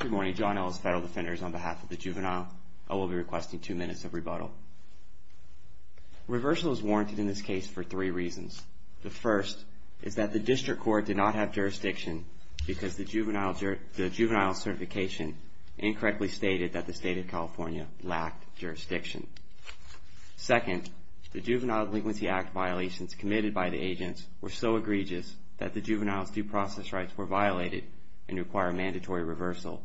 Good morning, John Ellis, Federal Defenders, on behalf of the Juvenile, I will be requesting two minutes of rebuttal. Reversal is warranted in this case for three reasons. The first is that the District Court did not have jurisdiction because the Juvenile certification incorrectly stated that the State of California lacked jurisdiction. Second, the Juvenile Delinquency Act violations committed by the agents were so egregious that the Juvenile's due process rights were violated and require mandatory reversal.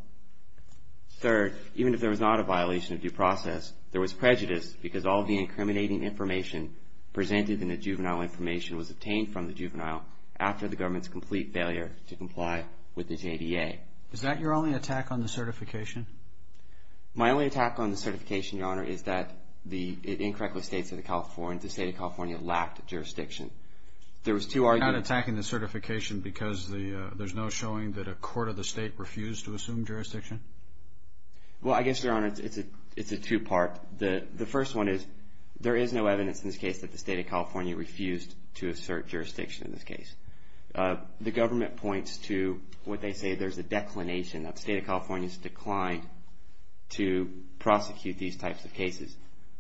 Third, even if there was not a violation of due process, there was prejudice because all of the incriminating information presented in the Juvenile information was obtained from the Juvenile after the government's complete failure to comply with the JDA. JUDGE LEBEN Is that your only attack on the certification? MR. ELLIS My only attack on the certification, Your Honor, is that it incorrectly states that the State of California lacked jurisdiction. There was two arguments... JUDGE LEBEN You're not attacking the certification because there's no showing that a court of the state refused to assume jurisdiction? MR. ELLIS Well, I guess, Your Honor, it's a two-part. The first one is there is no evidence in this case that the State of California refused to assert jurisdiction in this case. The government points to what they say there's a declination, that the State of California has declined to prosecute these types of cases.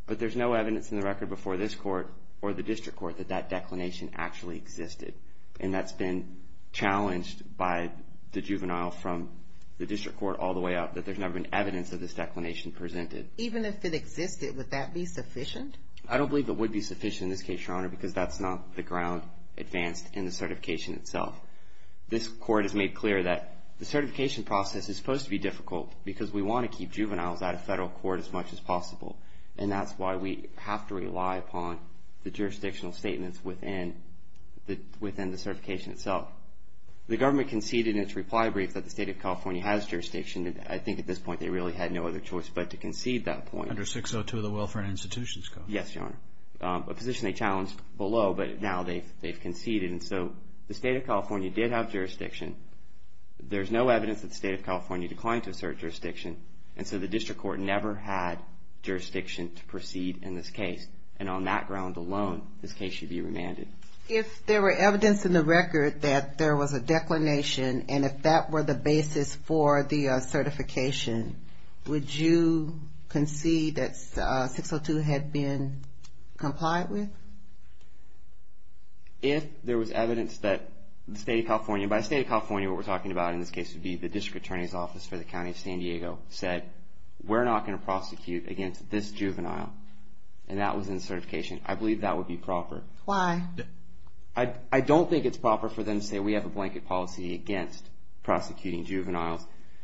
But there's no evidence in the record before this Court or the District Court that that declination actually existed. And that's been challenged by the Juvenile from the District Court all the way up, that there's never been evidence of this declination presented. JUDGE LEBEN Even if it existed, would that be sufficient? MR. ELLIS I don't believe it would be sufficient in this case, Your Honor, because that's not the ground advanced in the certification itself. This Court has made clear that the certification process is supposed to be difficult because we want to keep juveniles out of federal court as much as possible. And that's why we have to rely upon the jurisdictional statements within the certification itself. The government conceded in its reply brief that the State of California has jurisdiction. And I think at this point they really had no other choice but to concede that point. JUDGE LEBEN Under 602 of the Welfare and Institutions Code? MR. ELLIS Yes, Your Honor. A position they challenged below, but now they've conceded. And so the State of California did have jurisdiction. There's no evidence that the State of California declined to assert jurisdiction. And so the District Court never had jurisdiction to proceed in this case. And on that ground alone, this case should be remanded. JUDGE LEBEN If there were evidence in the record that there was a declination and if that were the basis for the certification, would you concede that 602 had been complied with? MR. ELLIS If there was evidence that the State of California, by the State of California what we're talking about in this case would be the District Attorney's Office for the County of San Diego said, we're not going to prosecute against this juvenile. And that was in the certification. I believe that would be proper. JUDGE LEBEN Why? MR. ELLIS I don't think it's proper for them to say we have a blanket policy against prosecuting juveniles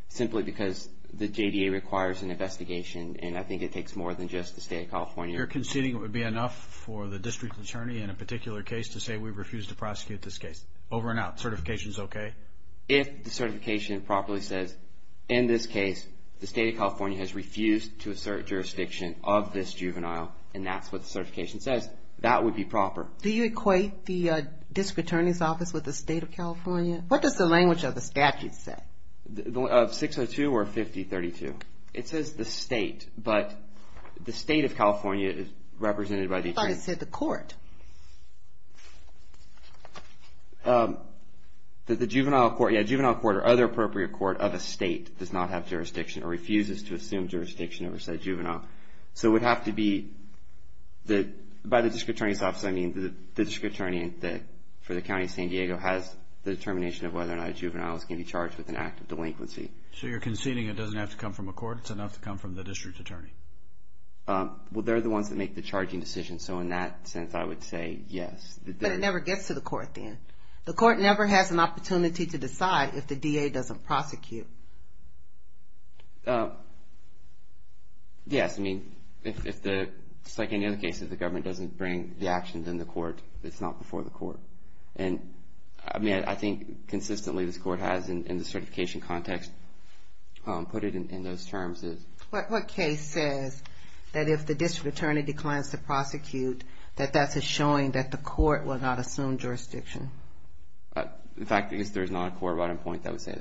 simply because the JDA requires an investigation. And I think it takes more than just the State of California. JUDGE LEBEN You're conceding it would be enough for the District Attorney in a particular case to say we refuse to prosecute this case. Over and out. Certification's okay? MR. ELLIS If the certification properly says, in this case the State of California has refused to assert jurisdiction of this juvenile, and that's what the certification says, that would be proper. JUDGE LEBEN Do you equate the District Attorney's Office with the State of California? What does the language of the statute say? MR. ELLIS Of 602 or 5032? It says the State, but the State of California is represented by the Attorney. JUDGE LEBEN But it said the court. MR. ELLIS The juvenile court or other appropriate court of a state does not have jurisdiction or refuses to assume jurisdiction over said juvenile. So it would have to be by the District Attorney's Office, I mean the District Attorney for the County of San Diego has the determination of whether or not juveniles can be charged with an act of delinquency. JUDGE LEBEN So you're conceding it doesn't have to come from a court, it's enough to come from the District Attorney? MR. ELLIS Well, they're the ones that make the charging decision, so in that sense I would say yes. JUDGE LEBEN But it never gets to the court then. The court never has an opportunity to decide if the DA doesn't prosecute. MR. ELLIS Yes, I mean, if the, just like any other case, if the government doesn't bring the actions in the court, it's not before the court. And I mean, I think consistently this court has in the certification context put it in those terms. JUDGE LEBEN What case says that if the District Attorney declines to prosecute, that that's a showing that the court will not assume jurisdiction? MR. ELLIS In fact, I guess there's not a court right on point that would say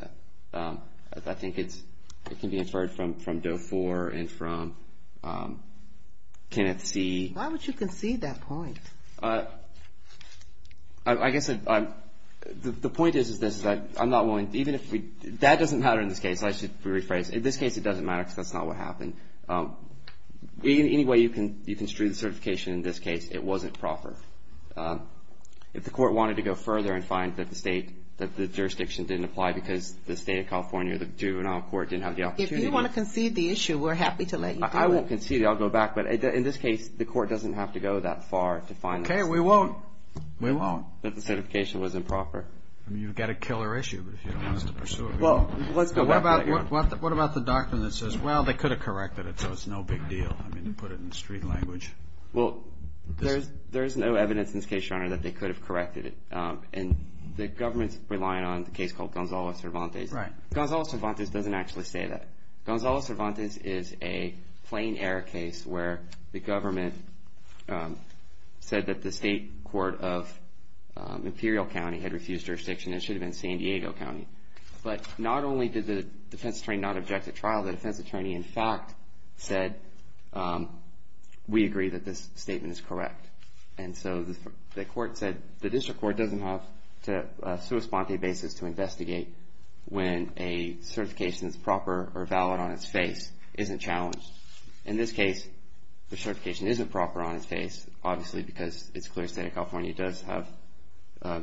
that. I think it's, it can be inferred from Doe 4 and from Kenneth C. JUDGE LEBEN Why would you concede that point? MR. ELLIS I guess I'm, the point is, is this, is that I'm not willing, even if we, that doesn't matter in this case. I should rephrase. In this case it doesn't matter because that's not what happened. We, in any way you can, you can strew the certification in this case, it wasn't proper. If the court wanted to go further and find that the state, that the jurisdiction didn't apply because the State of California, the juvenile court didn't have the opportunity. JUDGE LEBEN If you want to concede the issue, we're happy to let you do it. MR. ELLIS In fact, but in this case the court doesn't have to go that far to find the state. JUDGE LEBEN Okay, we won't. We won't. MR. ELLIS That the certification was improper. JUDGE LEBEN You've got a killer issue if you don't want us to pursue it. MR. ELLIS Well, let's go back to that. JUDGE LEBEN What about, what about the doctrine that says, well, they could have corrected it so it's no big deal. I mean, put it in street language. MR. ELLIS Well, there's, there's no evidence in this case, Your Honor, that they could have corrected it. And the government's relying on the case called Gonzalo Cervantes. JUDGE LEBEN Right. MR. ELLIS Gonzalo Cervantes doesn't actually say that. Gonzalo Cervantes is a plain error case where the government said that the state court of Imperial County had refused jurisdiction. It should have been San Diego County. But not only did the defense attorney not object at trial, the defense attorney in fact said, we agree that this statement is correct. And so the court said, the district court doesn't have to, a sua sponte basis to investigate when a certification is proper or valid on its face isn't challenged. In this case, the certification isn't proper on its face, obviously, because it's clear the state of California does have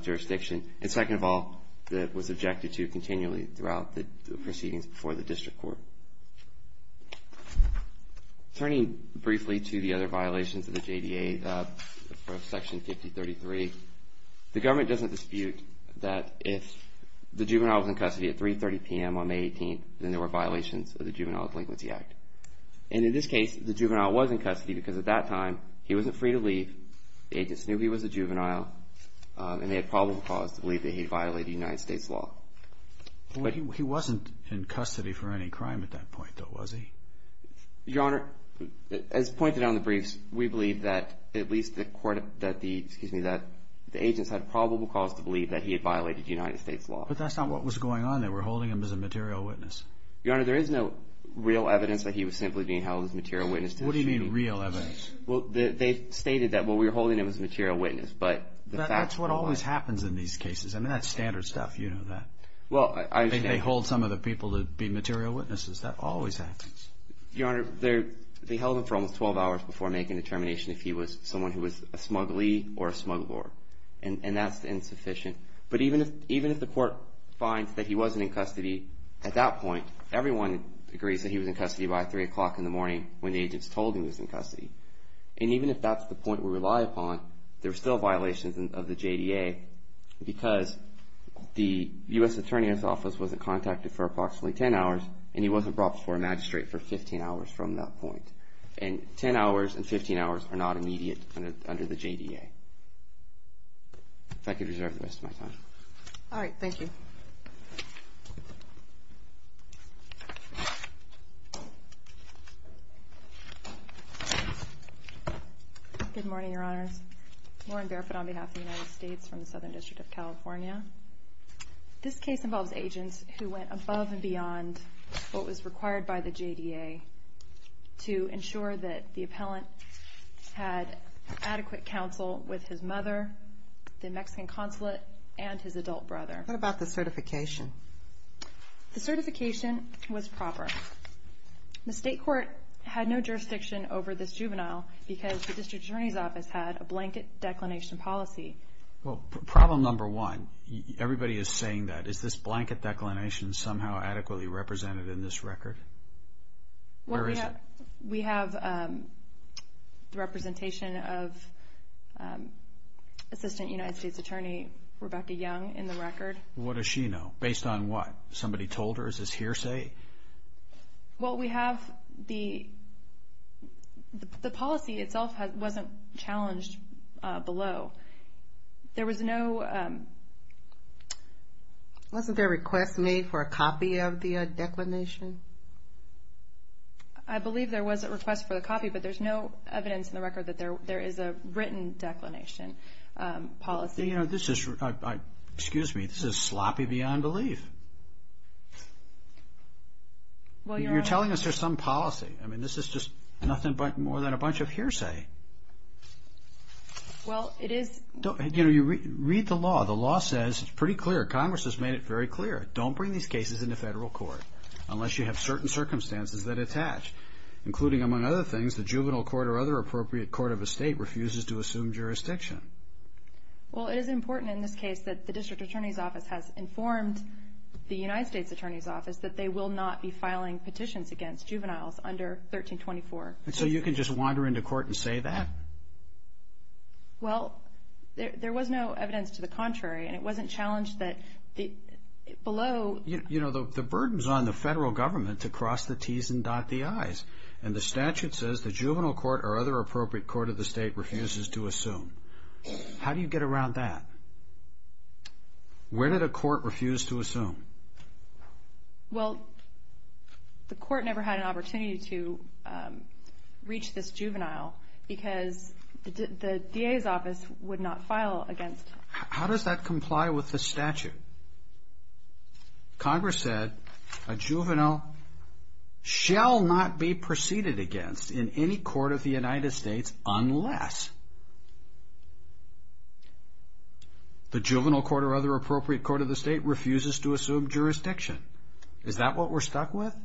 jurisdiction. And second of all, it was objected to continually throughout the proceedings before the district court. Turning briefly to the other violations of the JDA, Section 5033, the government doesn't dispute that if the juvenile was in custody at 3.30 p.m. on May 18th, then there were violations of the Juvenile Delinquency Act. And in this case, the juvenile was in custody because at that time, he wasn't free to leave, the agents knew he was a juvenile, and they had probable cause to believe that he violated United States law. JUDGE LEBEN He wasn't in custody for any crime at that point, though, was he? MR. ELLIS Your Honor, as pointed out in the briefs, we believe that at least the court, that the, excuse me, that the agents had probable cause to believe that he had violated United States law. JUDGE LEBEN But that's not what was going on. They were holding him as a material witness. MR. ELLIS Your Honor, there is no real evidence that he was simply being held as a material witness to the shooting. JUDGE LEBEN What do you mean, real evidence? MR. ELLIS Well, they stated that, well, we were holding him as a material witness, but the facts were lie. JUDGE LEBEN That's what always happens in these cases. I mean, that's standard stuff. You know that. MR. ELLIS Well, I understand. JUDGE LEBEN I think they hold some of the people to be material witnesses. That always happens. MR. ELLIS Your Honor, they held him for almost 12 hours before making a determination if he was someone who was a smuggly or a smuggler, and that's insufficient. But even if the court finds that he wasn't in custody at that point, everyone agrees that he was in custody by 3 o'clock in the morning when the agents told him he was in custody. And even if that's the point we rely upon, there are still violations of the JDA because the U.S. Attorney's Office wasn't contacted for approximately 10 hours, and he wasn't brought before a magistrate for 15 hours from that point. And 10 hours and 15 hours are not immediate under the JDA. If I could reserve the rest of my time. JUDGE LEBEN All right. Thank you. LAUREN BARFOOT Good morning, Your Honors. Lauren Barfoot on behalf of the United States from the Southern District of California. This case involves agents who went above and beyond the JDA to ensure that the appellant had adequate counsel with his mother, the Mexican consulate, and his adult brother. JUDGE LEBEN What about the certification? LAUREN BARFOOT The certification was proper. The state court had no jurisdiction over this juvenile because the District Attorney's Office had a blanket declination policy. JUDGE LEBEN Well, problem number one, everybody is saying that. Is this blanket declination somehow adequately represented in this record? Where is it? LAUREN BARFOOT We have the representation of Assistant United States Attorney Rebecca Young in the record. JUDGE LEBEN What does she know? Based on what? Somebody told her? Is this hearsay? LAUREN BARFOOT Well, we have the policy itself wasn't challenged below. There was no... JUDGE LEBEN Was there a request for a copy of the declination? LAUREN BARFOOT I believe there was a request for a copy, but there is no evidence in the record that there is a written declination policy. JUDGE LEBEN Excuse me, this is sloppy beyond belief. You're telling us there's some policy. I mean, this is just nothing more than a bunch of hearsay. LAUREN BARFOOT Well, it is... JUDGE LEBEN Read the law. The law says it's pretty clear. Congress has made it very clear. Don't bring these cases into federal court unless you have certain circumstances that attach, including, among other things, the juvenile court or other appropriate court of estate refuses to assume jurisdiction. LAUREN BARFOOT Well, it is important in this case that the District Attorney's Office has informed the United States Attorney's Office that they will not be filing petitions against juveniles under 1324. JUDGE LEBEN And so you can just wander into court and say that? LAUREN BARFOOT Well, there was no evidence to the contrary, and it wasn't challenged that below... JUDGE LEBEN You know, the burden's on the federal government to cross the T's and dot the I's, and the statute says the juvenile court or other appropriate court of the state refuses to assume. How do you get around that? Where did a court refuse to assume? LAUREN BARFOOT Well, the court never had an opportunity to reach this juvenile, because the DA's office would not file against... JUDGE LEBEN How does that comply with the statute? Congress said a juvenile shall not be preceded against in any court of the United States unless the juvenile court or other appropriate court of the state refuses to assume jurisdiction. Is that what we're stuck with?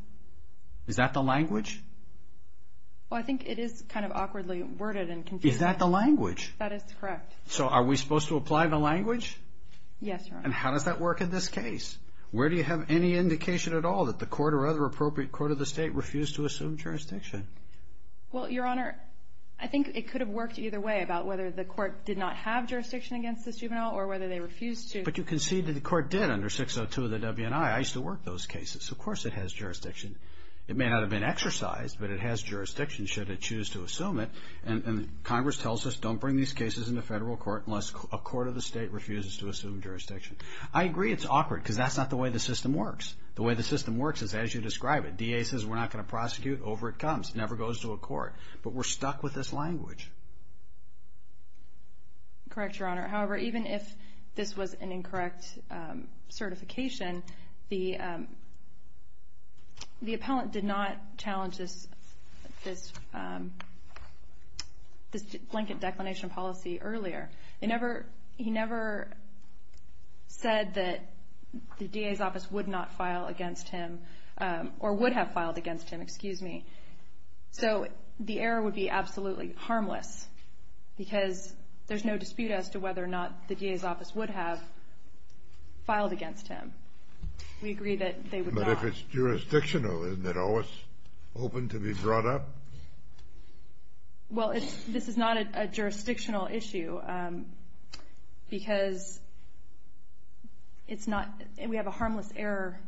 Is that the language? LAUREN BARFOOT Well, I think it is kind of awkwardly worded and confusing. JUDGE LEBEN Is that the language? LAUREN BARFOOT That is correct. JUDGE LEBEN So are we supposed to apply the language? LAUREN BARFOOT Yes, Your Honor. JUDGE LEBEN And how does that work in this case? Where do you have any indication at all that the court or other appropriate court of the state refused to assume jurisdiction? LAUREN BARFOOT Well, Your Honor, I think it could have worked either way about whether the court did not have jurisdiction against this juvenile or whether they refused to. JUDGE LEBEN But you conceded the court did under 602 of the WNI. I used to work those cases. Of course it has jurisdiction. It may not have been exercised, but it has jurisdiction should it choose to assume it. And Congress tells us don't bring these cases into federal court unless a court of the state refuses to assume jurisdiction. I agree it's awkward, because that's not the way the system works. The way the system works is as you describe it. The DA says we're not going to prosecute. Over it comes. It never goes to a court. But we're stuck with this language. LAUREN BARFOOT Correct, Your Honor. However, even if this was an incorrect certification, the appellant did not challenge this blanket declination policy earlier. He never said that the DA's office would not file against him or would have filed against him. So the error would be absolutely harmless, because there's no dispute as to whether or not the DA's office would have filed against him. We agree that they would not. JUDGE LEBEN But if it's jurisdictional, isn't it always open to be brought up? LAUREN BARFOOT Well, this is not a jurisdictional issue, because we have a harmless error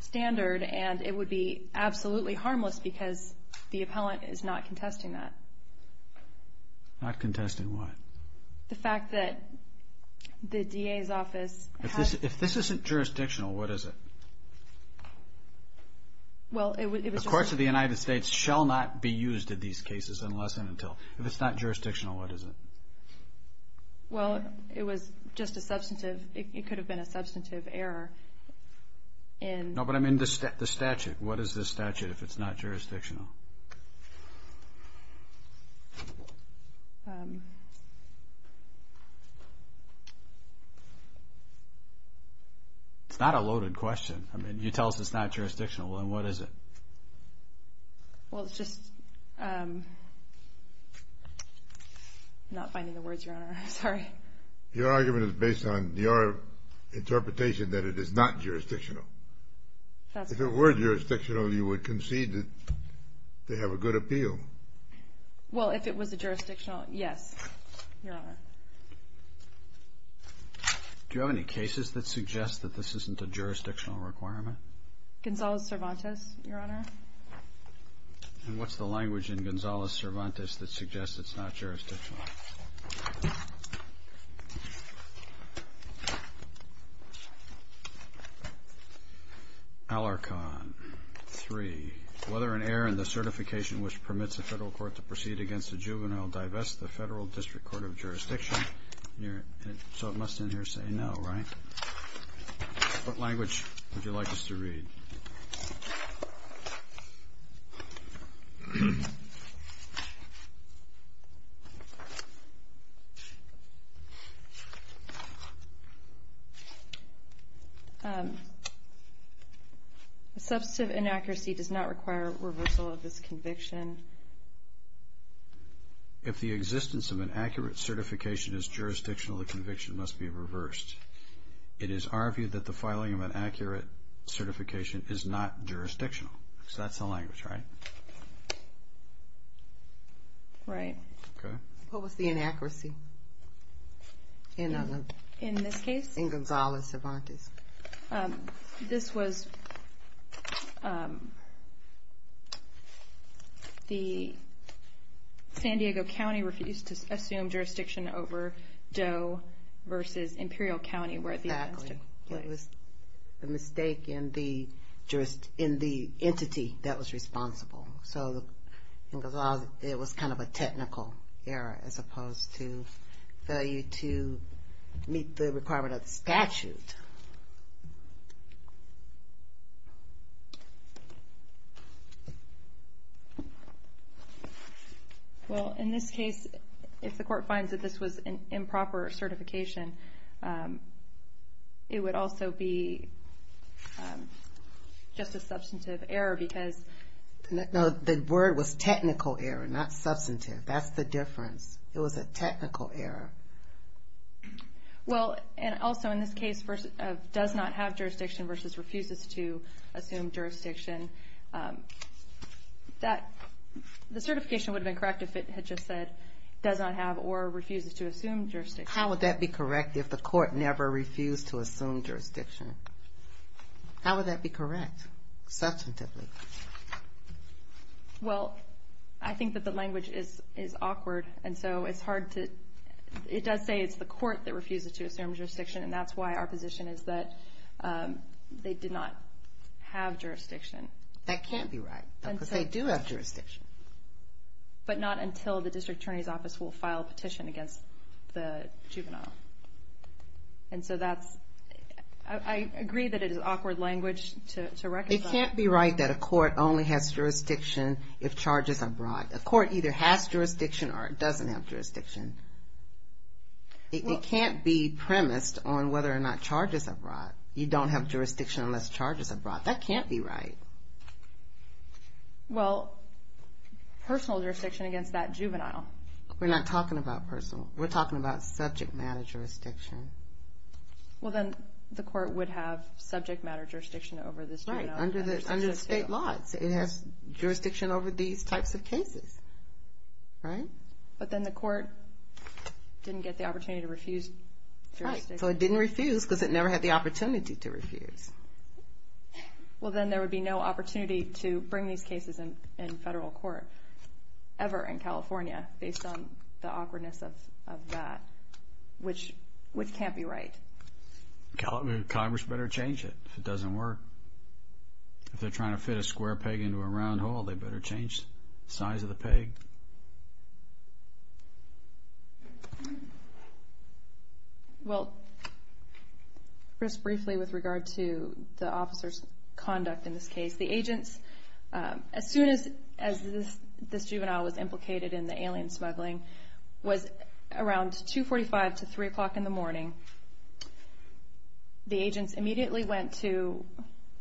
standard, and it would be absolutely harmless because the appellant is not contesting that. JUDGE LEBEN Not contesting what? LAUREN BARFOOT The fact that the DA's office has... JUDGE LEBEN If this isn't jurisdictional, what is it? The courts of the United States shall not be used in these cases unless and until... LAUREN BARFOOT Well, it was just a substantive... It could have been a substantive error in... JUDGE LEBEN No, but I mean the statute. What is the statute if it's not jurisdictional? It's not a loaded question. I mean, you tell us it's not jurisdictional, then what is it? LAUREN BARFOOT Well, it's just... I'm not finding the words, Your Honor. I'm sorry. JUDGE LEBEN Your argument is based on your interpretation that it is not jurisdictional. If it were jurisdictional, you would concede that they have a good appeal. LAUREN BARFOOT Well, if it was jurisdictional, yes, Your Honor. JUDGE LEBEN Do you have any cases that suggest that this isn't a jurisdictional requirement? LAUREN BARFOOT Gonzales-Cervantes, Your Honor. JUDGE LEBEN And what's the language in Gonzales-Cervantes that suggests it's not jurisdictional? Alarcon 3. Whether an error in the certification which permits a federal court to proceed against a juvenile divests the federal district court of jurisdiction... So it must in here say no, right? What language would you like us to read? LAUREN BARFOOT Substantive inaccuracy does not require reversal of this conviction. JUDGE LEBEN If the existence of an accurate certification is jurisdictional, the conviction must be reversed. It is argued that the filing of an accurate certification is not jurisdictional. So that's the language, right? LAUREN BARFOOT Right. JUDGE LEBEN Okay. What was the inaccuracy in Gonzales-Cervantes? LAUREN BARFOOT This was... The San Diego County refused to assume jurisdiction over Doe versus Imperial County where the offense took place. LAUREN BARFOOT Exactly. It was a mistake in the entity that was responsible. So it was kind of a technical error as opposed to failure to meet the requirement of the statute. JUDGE LEBEN Well, in this case, if the court finds that this was an improper certification, it would also be just a substantive error because... LAUREN BARFOOT No, the word was technical error, not substantive. That's the difference. It was a technical error. LAUREN BARFOOT Well, and also in this case, does not have jurisdiction versus refuses to assume jurisdiction, the certification would have been correct if it had just said does not have or refuses to assume jurisdiction. JUDGE LEBEN How would that be correct if the court never refused to assume jurisdiction? How would that be correct, substantively? LAUREN BARFOOT Well, I think that the language is awkward, and so it's hard to... It does say it's the court that refuses to assume jurisdiction, and that's why our position is that they did not have jurisdiction. JUDGE LEBEN That can't be right because they do have jurisdiction. LAUREN BARFOOT But not until the district attorney's office will file a petition against the juvenile. And so that's... I agree that it is awkward language to reconcile. JUDGE LEBEN It can't be right that a court only has jurisdiction if charges are brought. A court either has jurisdiction or it doesn't have jurisdiction. It can't be premised on whether or not charges are brought. You don't have jurisdiction unless charges are brought. That can't be right. LAUREN BARFOOT Well, personal jurisdiction against that juvenile. JUDGE LEBEN We're not talking about personal. We're talking about subject matter jurisdiction. LAUREN BARFOOT Well, then the court would have subject matter jurisdiction over this juvenile. JUDGE LEBEN Under the state law, it has jurisdiction over these types of cases, right? LAUREN BARFOOT But then the court didn't get the opportunity to refuse jurisdiction. JUDGE LEBEN Right, so it didn't refuse because it never had the opportunity to refuse. LAUREN BARFOOT Well, then there would be no opportunity to bring these cases in federal court ever in California based on the awkwardness of that, which can't be right. Congress better change it if it doesn't work. If they're trying to fit a square peg into a round hole, they better change the size of the peg. LAUREN BARFOOT Well, just briefly with regard to the officer's conduct in this case, the agents, as soon as this juvenile was implicated in the alien smuggling, was around 2.45 to 3 o'clock in the morning, the agents immediately went to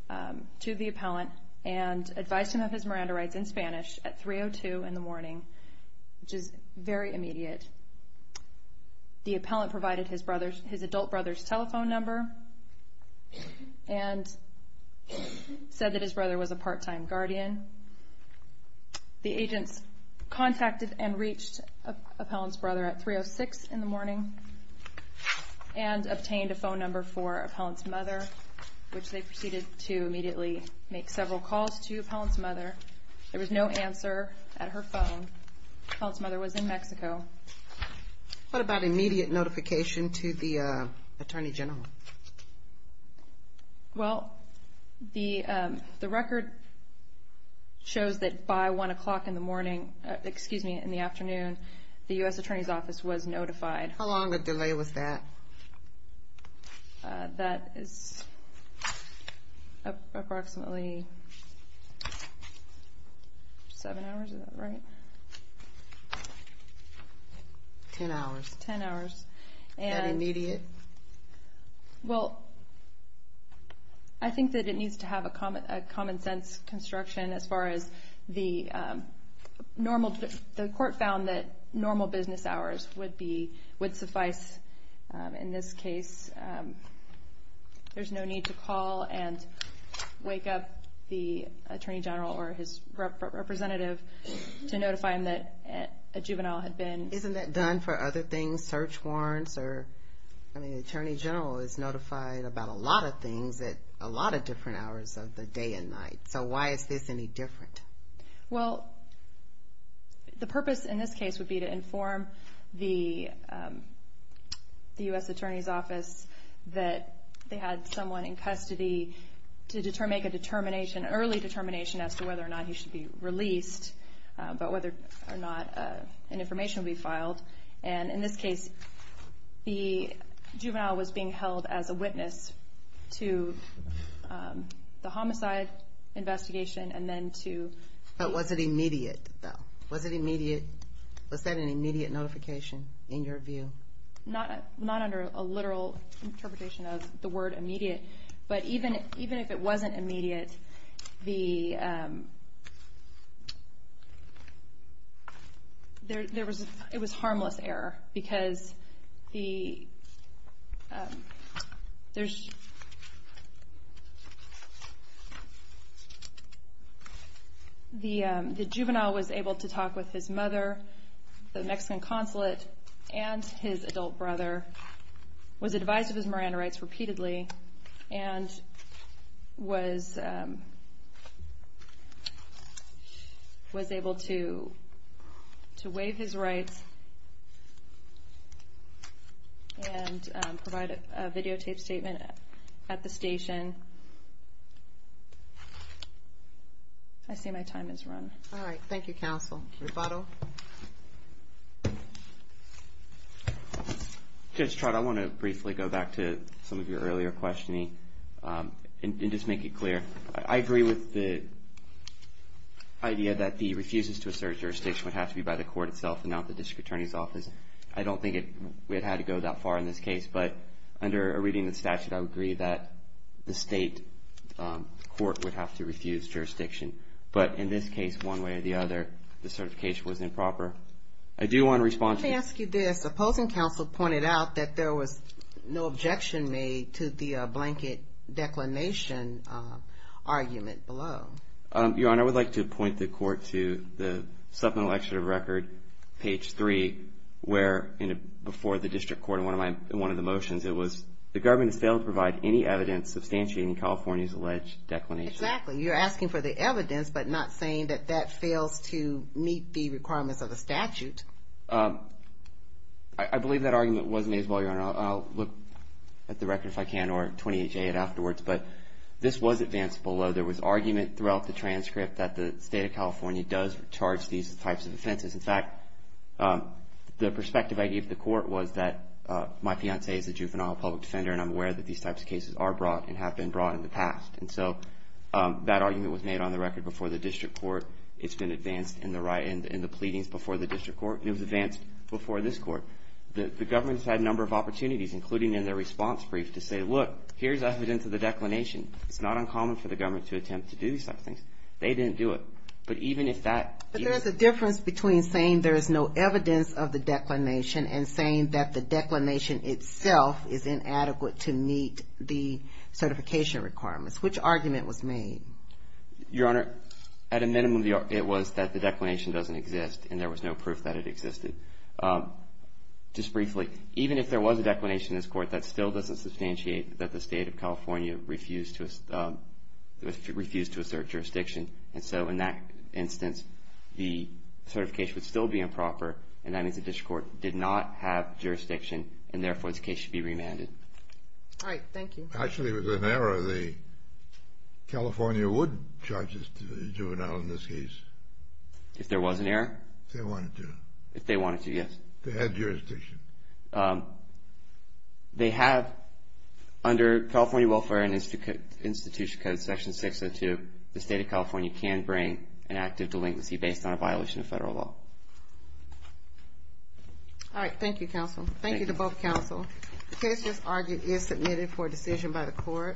the appellant and advised him of his Miranda rights in Spanish at 3.02 in the morning, which is very immediate. The appellant provided his adult brother's telephone number and said that his brother was a part-time guardian. The agents contacted and reached the appellant's brother at 3.06 in the morning and obtained a phone number for the appellant's mother, which they proceeded to immediately make several calls to the appellant's mother. There was no answer at her phone. The appellant's mother was in Mexico. CHIEF JUSTICE KAGAN What about immediate notification to the Attorney General? LAUREN BARFOOT Well, the record shows that by 1 o'clock in the morning, excuse me, in the afternoon, the U.S. Attorney's Office was notified. CHIEF JUSTICE KAGAN How long of delay was that? LAUREN BARFOOT That is approximately seven hours, is that right? CHIEF JUSTICE KAGAN Ten hours. LAUREN BARFOOT Ten hours. CHIEF JUSTICE KAGAN And immediate? LAUREN BARFOOT Well, I think that it needs to have a common sense construction as far as the court found that normal business hours would suffice in this case. There's no need to call and wake up the Attorney General or his representative to notify him that a juvenile had been... I mean, the Attorney General is notified about a lot of things at a lot of different hours of the day and night. So why is this any different? LAUREN BARFOOT Well, the purpose in this case would be to inform the U.S. Attorney's Office that they had someone in custody to make an early determination as to whether or not he should be released but whether or not an information would be filed. And in this case, the juvenile was being held as a witness to the homicide investigation and then to... CHIEF JUSTICE KAGAN But was it immediate, though? Was it immediate? Was that an immediate notification in your view? LAUREN BARFOOT Not under a literal interpretation of the word immediate. But even if it wasn't immediate, it was harmless error because the juvenile was able to talk with his mother, the Mexican consulate, and his adult brother, was advised of his Miranda rights repeatedly, and was able to waive his rights and provide a videotaped statement at the station. I see my time has run. CHIEF JUSTICE KAGAN All right. Thank you, counsel. CHIEF JUSTICE SOTOMAYOR Thank you. CHIEF JUSTICE SOTOMAYOR Refato? REFATO Just, Trott, I want to briefly go back to some of your earlier questioning and just make it clear. I agree with the idea that the refuses to assert jurisdiction would have to be by the court itself and not the District Attorney's Office. I don't think it had to go that far in this case, but under a reading of the statute, I would agree that the state court would have to refuse jurisdiction. But in this case, one way or the other, the certification was improper. I do want to respond to this. CHIEF JUSTICE SOTOMAYOR Let me ask you this. Opposing counsel pointed out that there was no objection made to the blanket declination argument below. REFATO Your Honor, I would like to point the court to the supplemental excerpt of record, page 3, where before the District Court, in one of the motions, it was, the government has failed to provide any evidence substantiating California's alleged declination. CHIEF JUSTICE SOTOMAYOR Exactly. You're asking for the evidence, but not saying that that fails to meet the requirements of the statute. REFATO I believe that argument was made as well, Your Honor. I'll look at the record if I can or 28J it afterwards. But this was advanced below. There was argument throughout the transcript that the state of California does charge these types of offenses. In fact, the perspective I gave the court was that my fiancée is a juvenile public defender and I'm aware that these types of cases are brought and have been brought in the past. And so that argument was made on the record before the District Court. It's been advanced in the pleadings before the District Court. It was advanced before this court. The government's had a number of opportunities, including in their response brief, to say, look, here's evidence of the declination. It's not uncommon for the government to attempt to do these types of things. But even if that… CHIEF JUSTICE SOTOMAYOR But there's a difference between saying there is no evidence of the declination and saying that the declination itself is Your Honor, at a minimum it was that the declination doesn't exist and there was no proof that it existed. Just briefly, even if there was a declination in this court, that still doesn't substantiate that the state of California refused to assert jurisdiction. And so in that instance, the certification would still be improper and that means the District Court did not have jurisdiction and therefore this case should be remanded. All right. Thank you. If actually there was an error, the California would charge this juvenile in this case. If there was an error? If they wanted to. If they wanted to, yes. They had jurisdiction. They have, under California Welfare and Institution Code Section 602, the state of California can bring an act of delinquency based on a violation of federal law. All right. Thank you, counsel. Thank you to both counsel. The case just argued is submitted for decision by the court.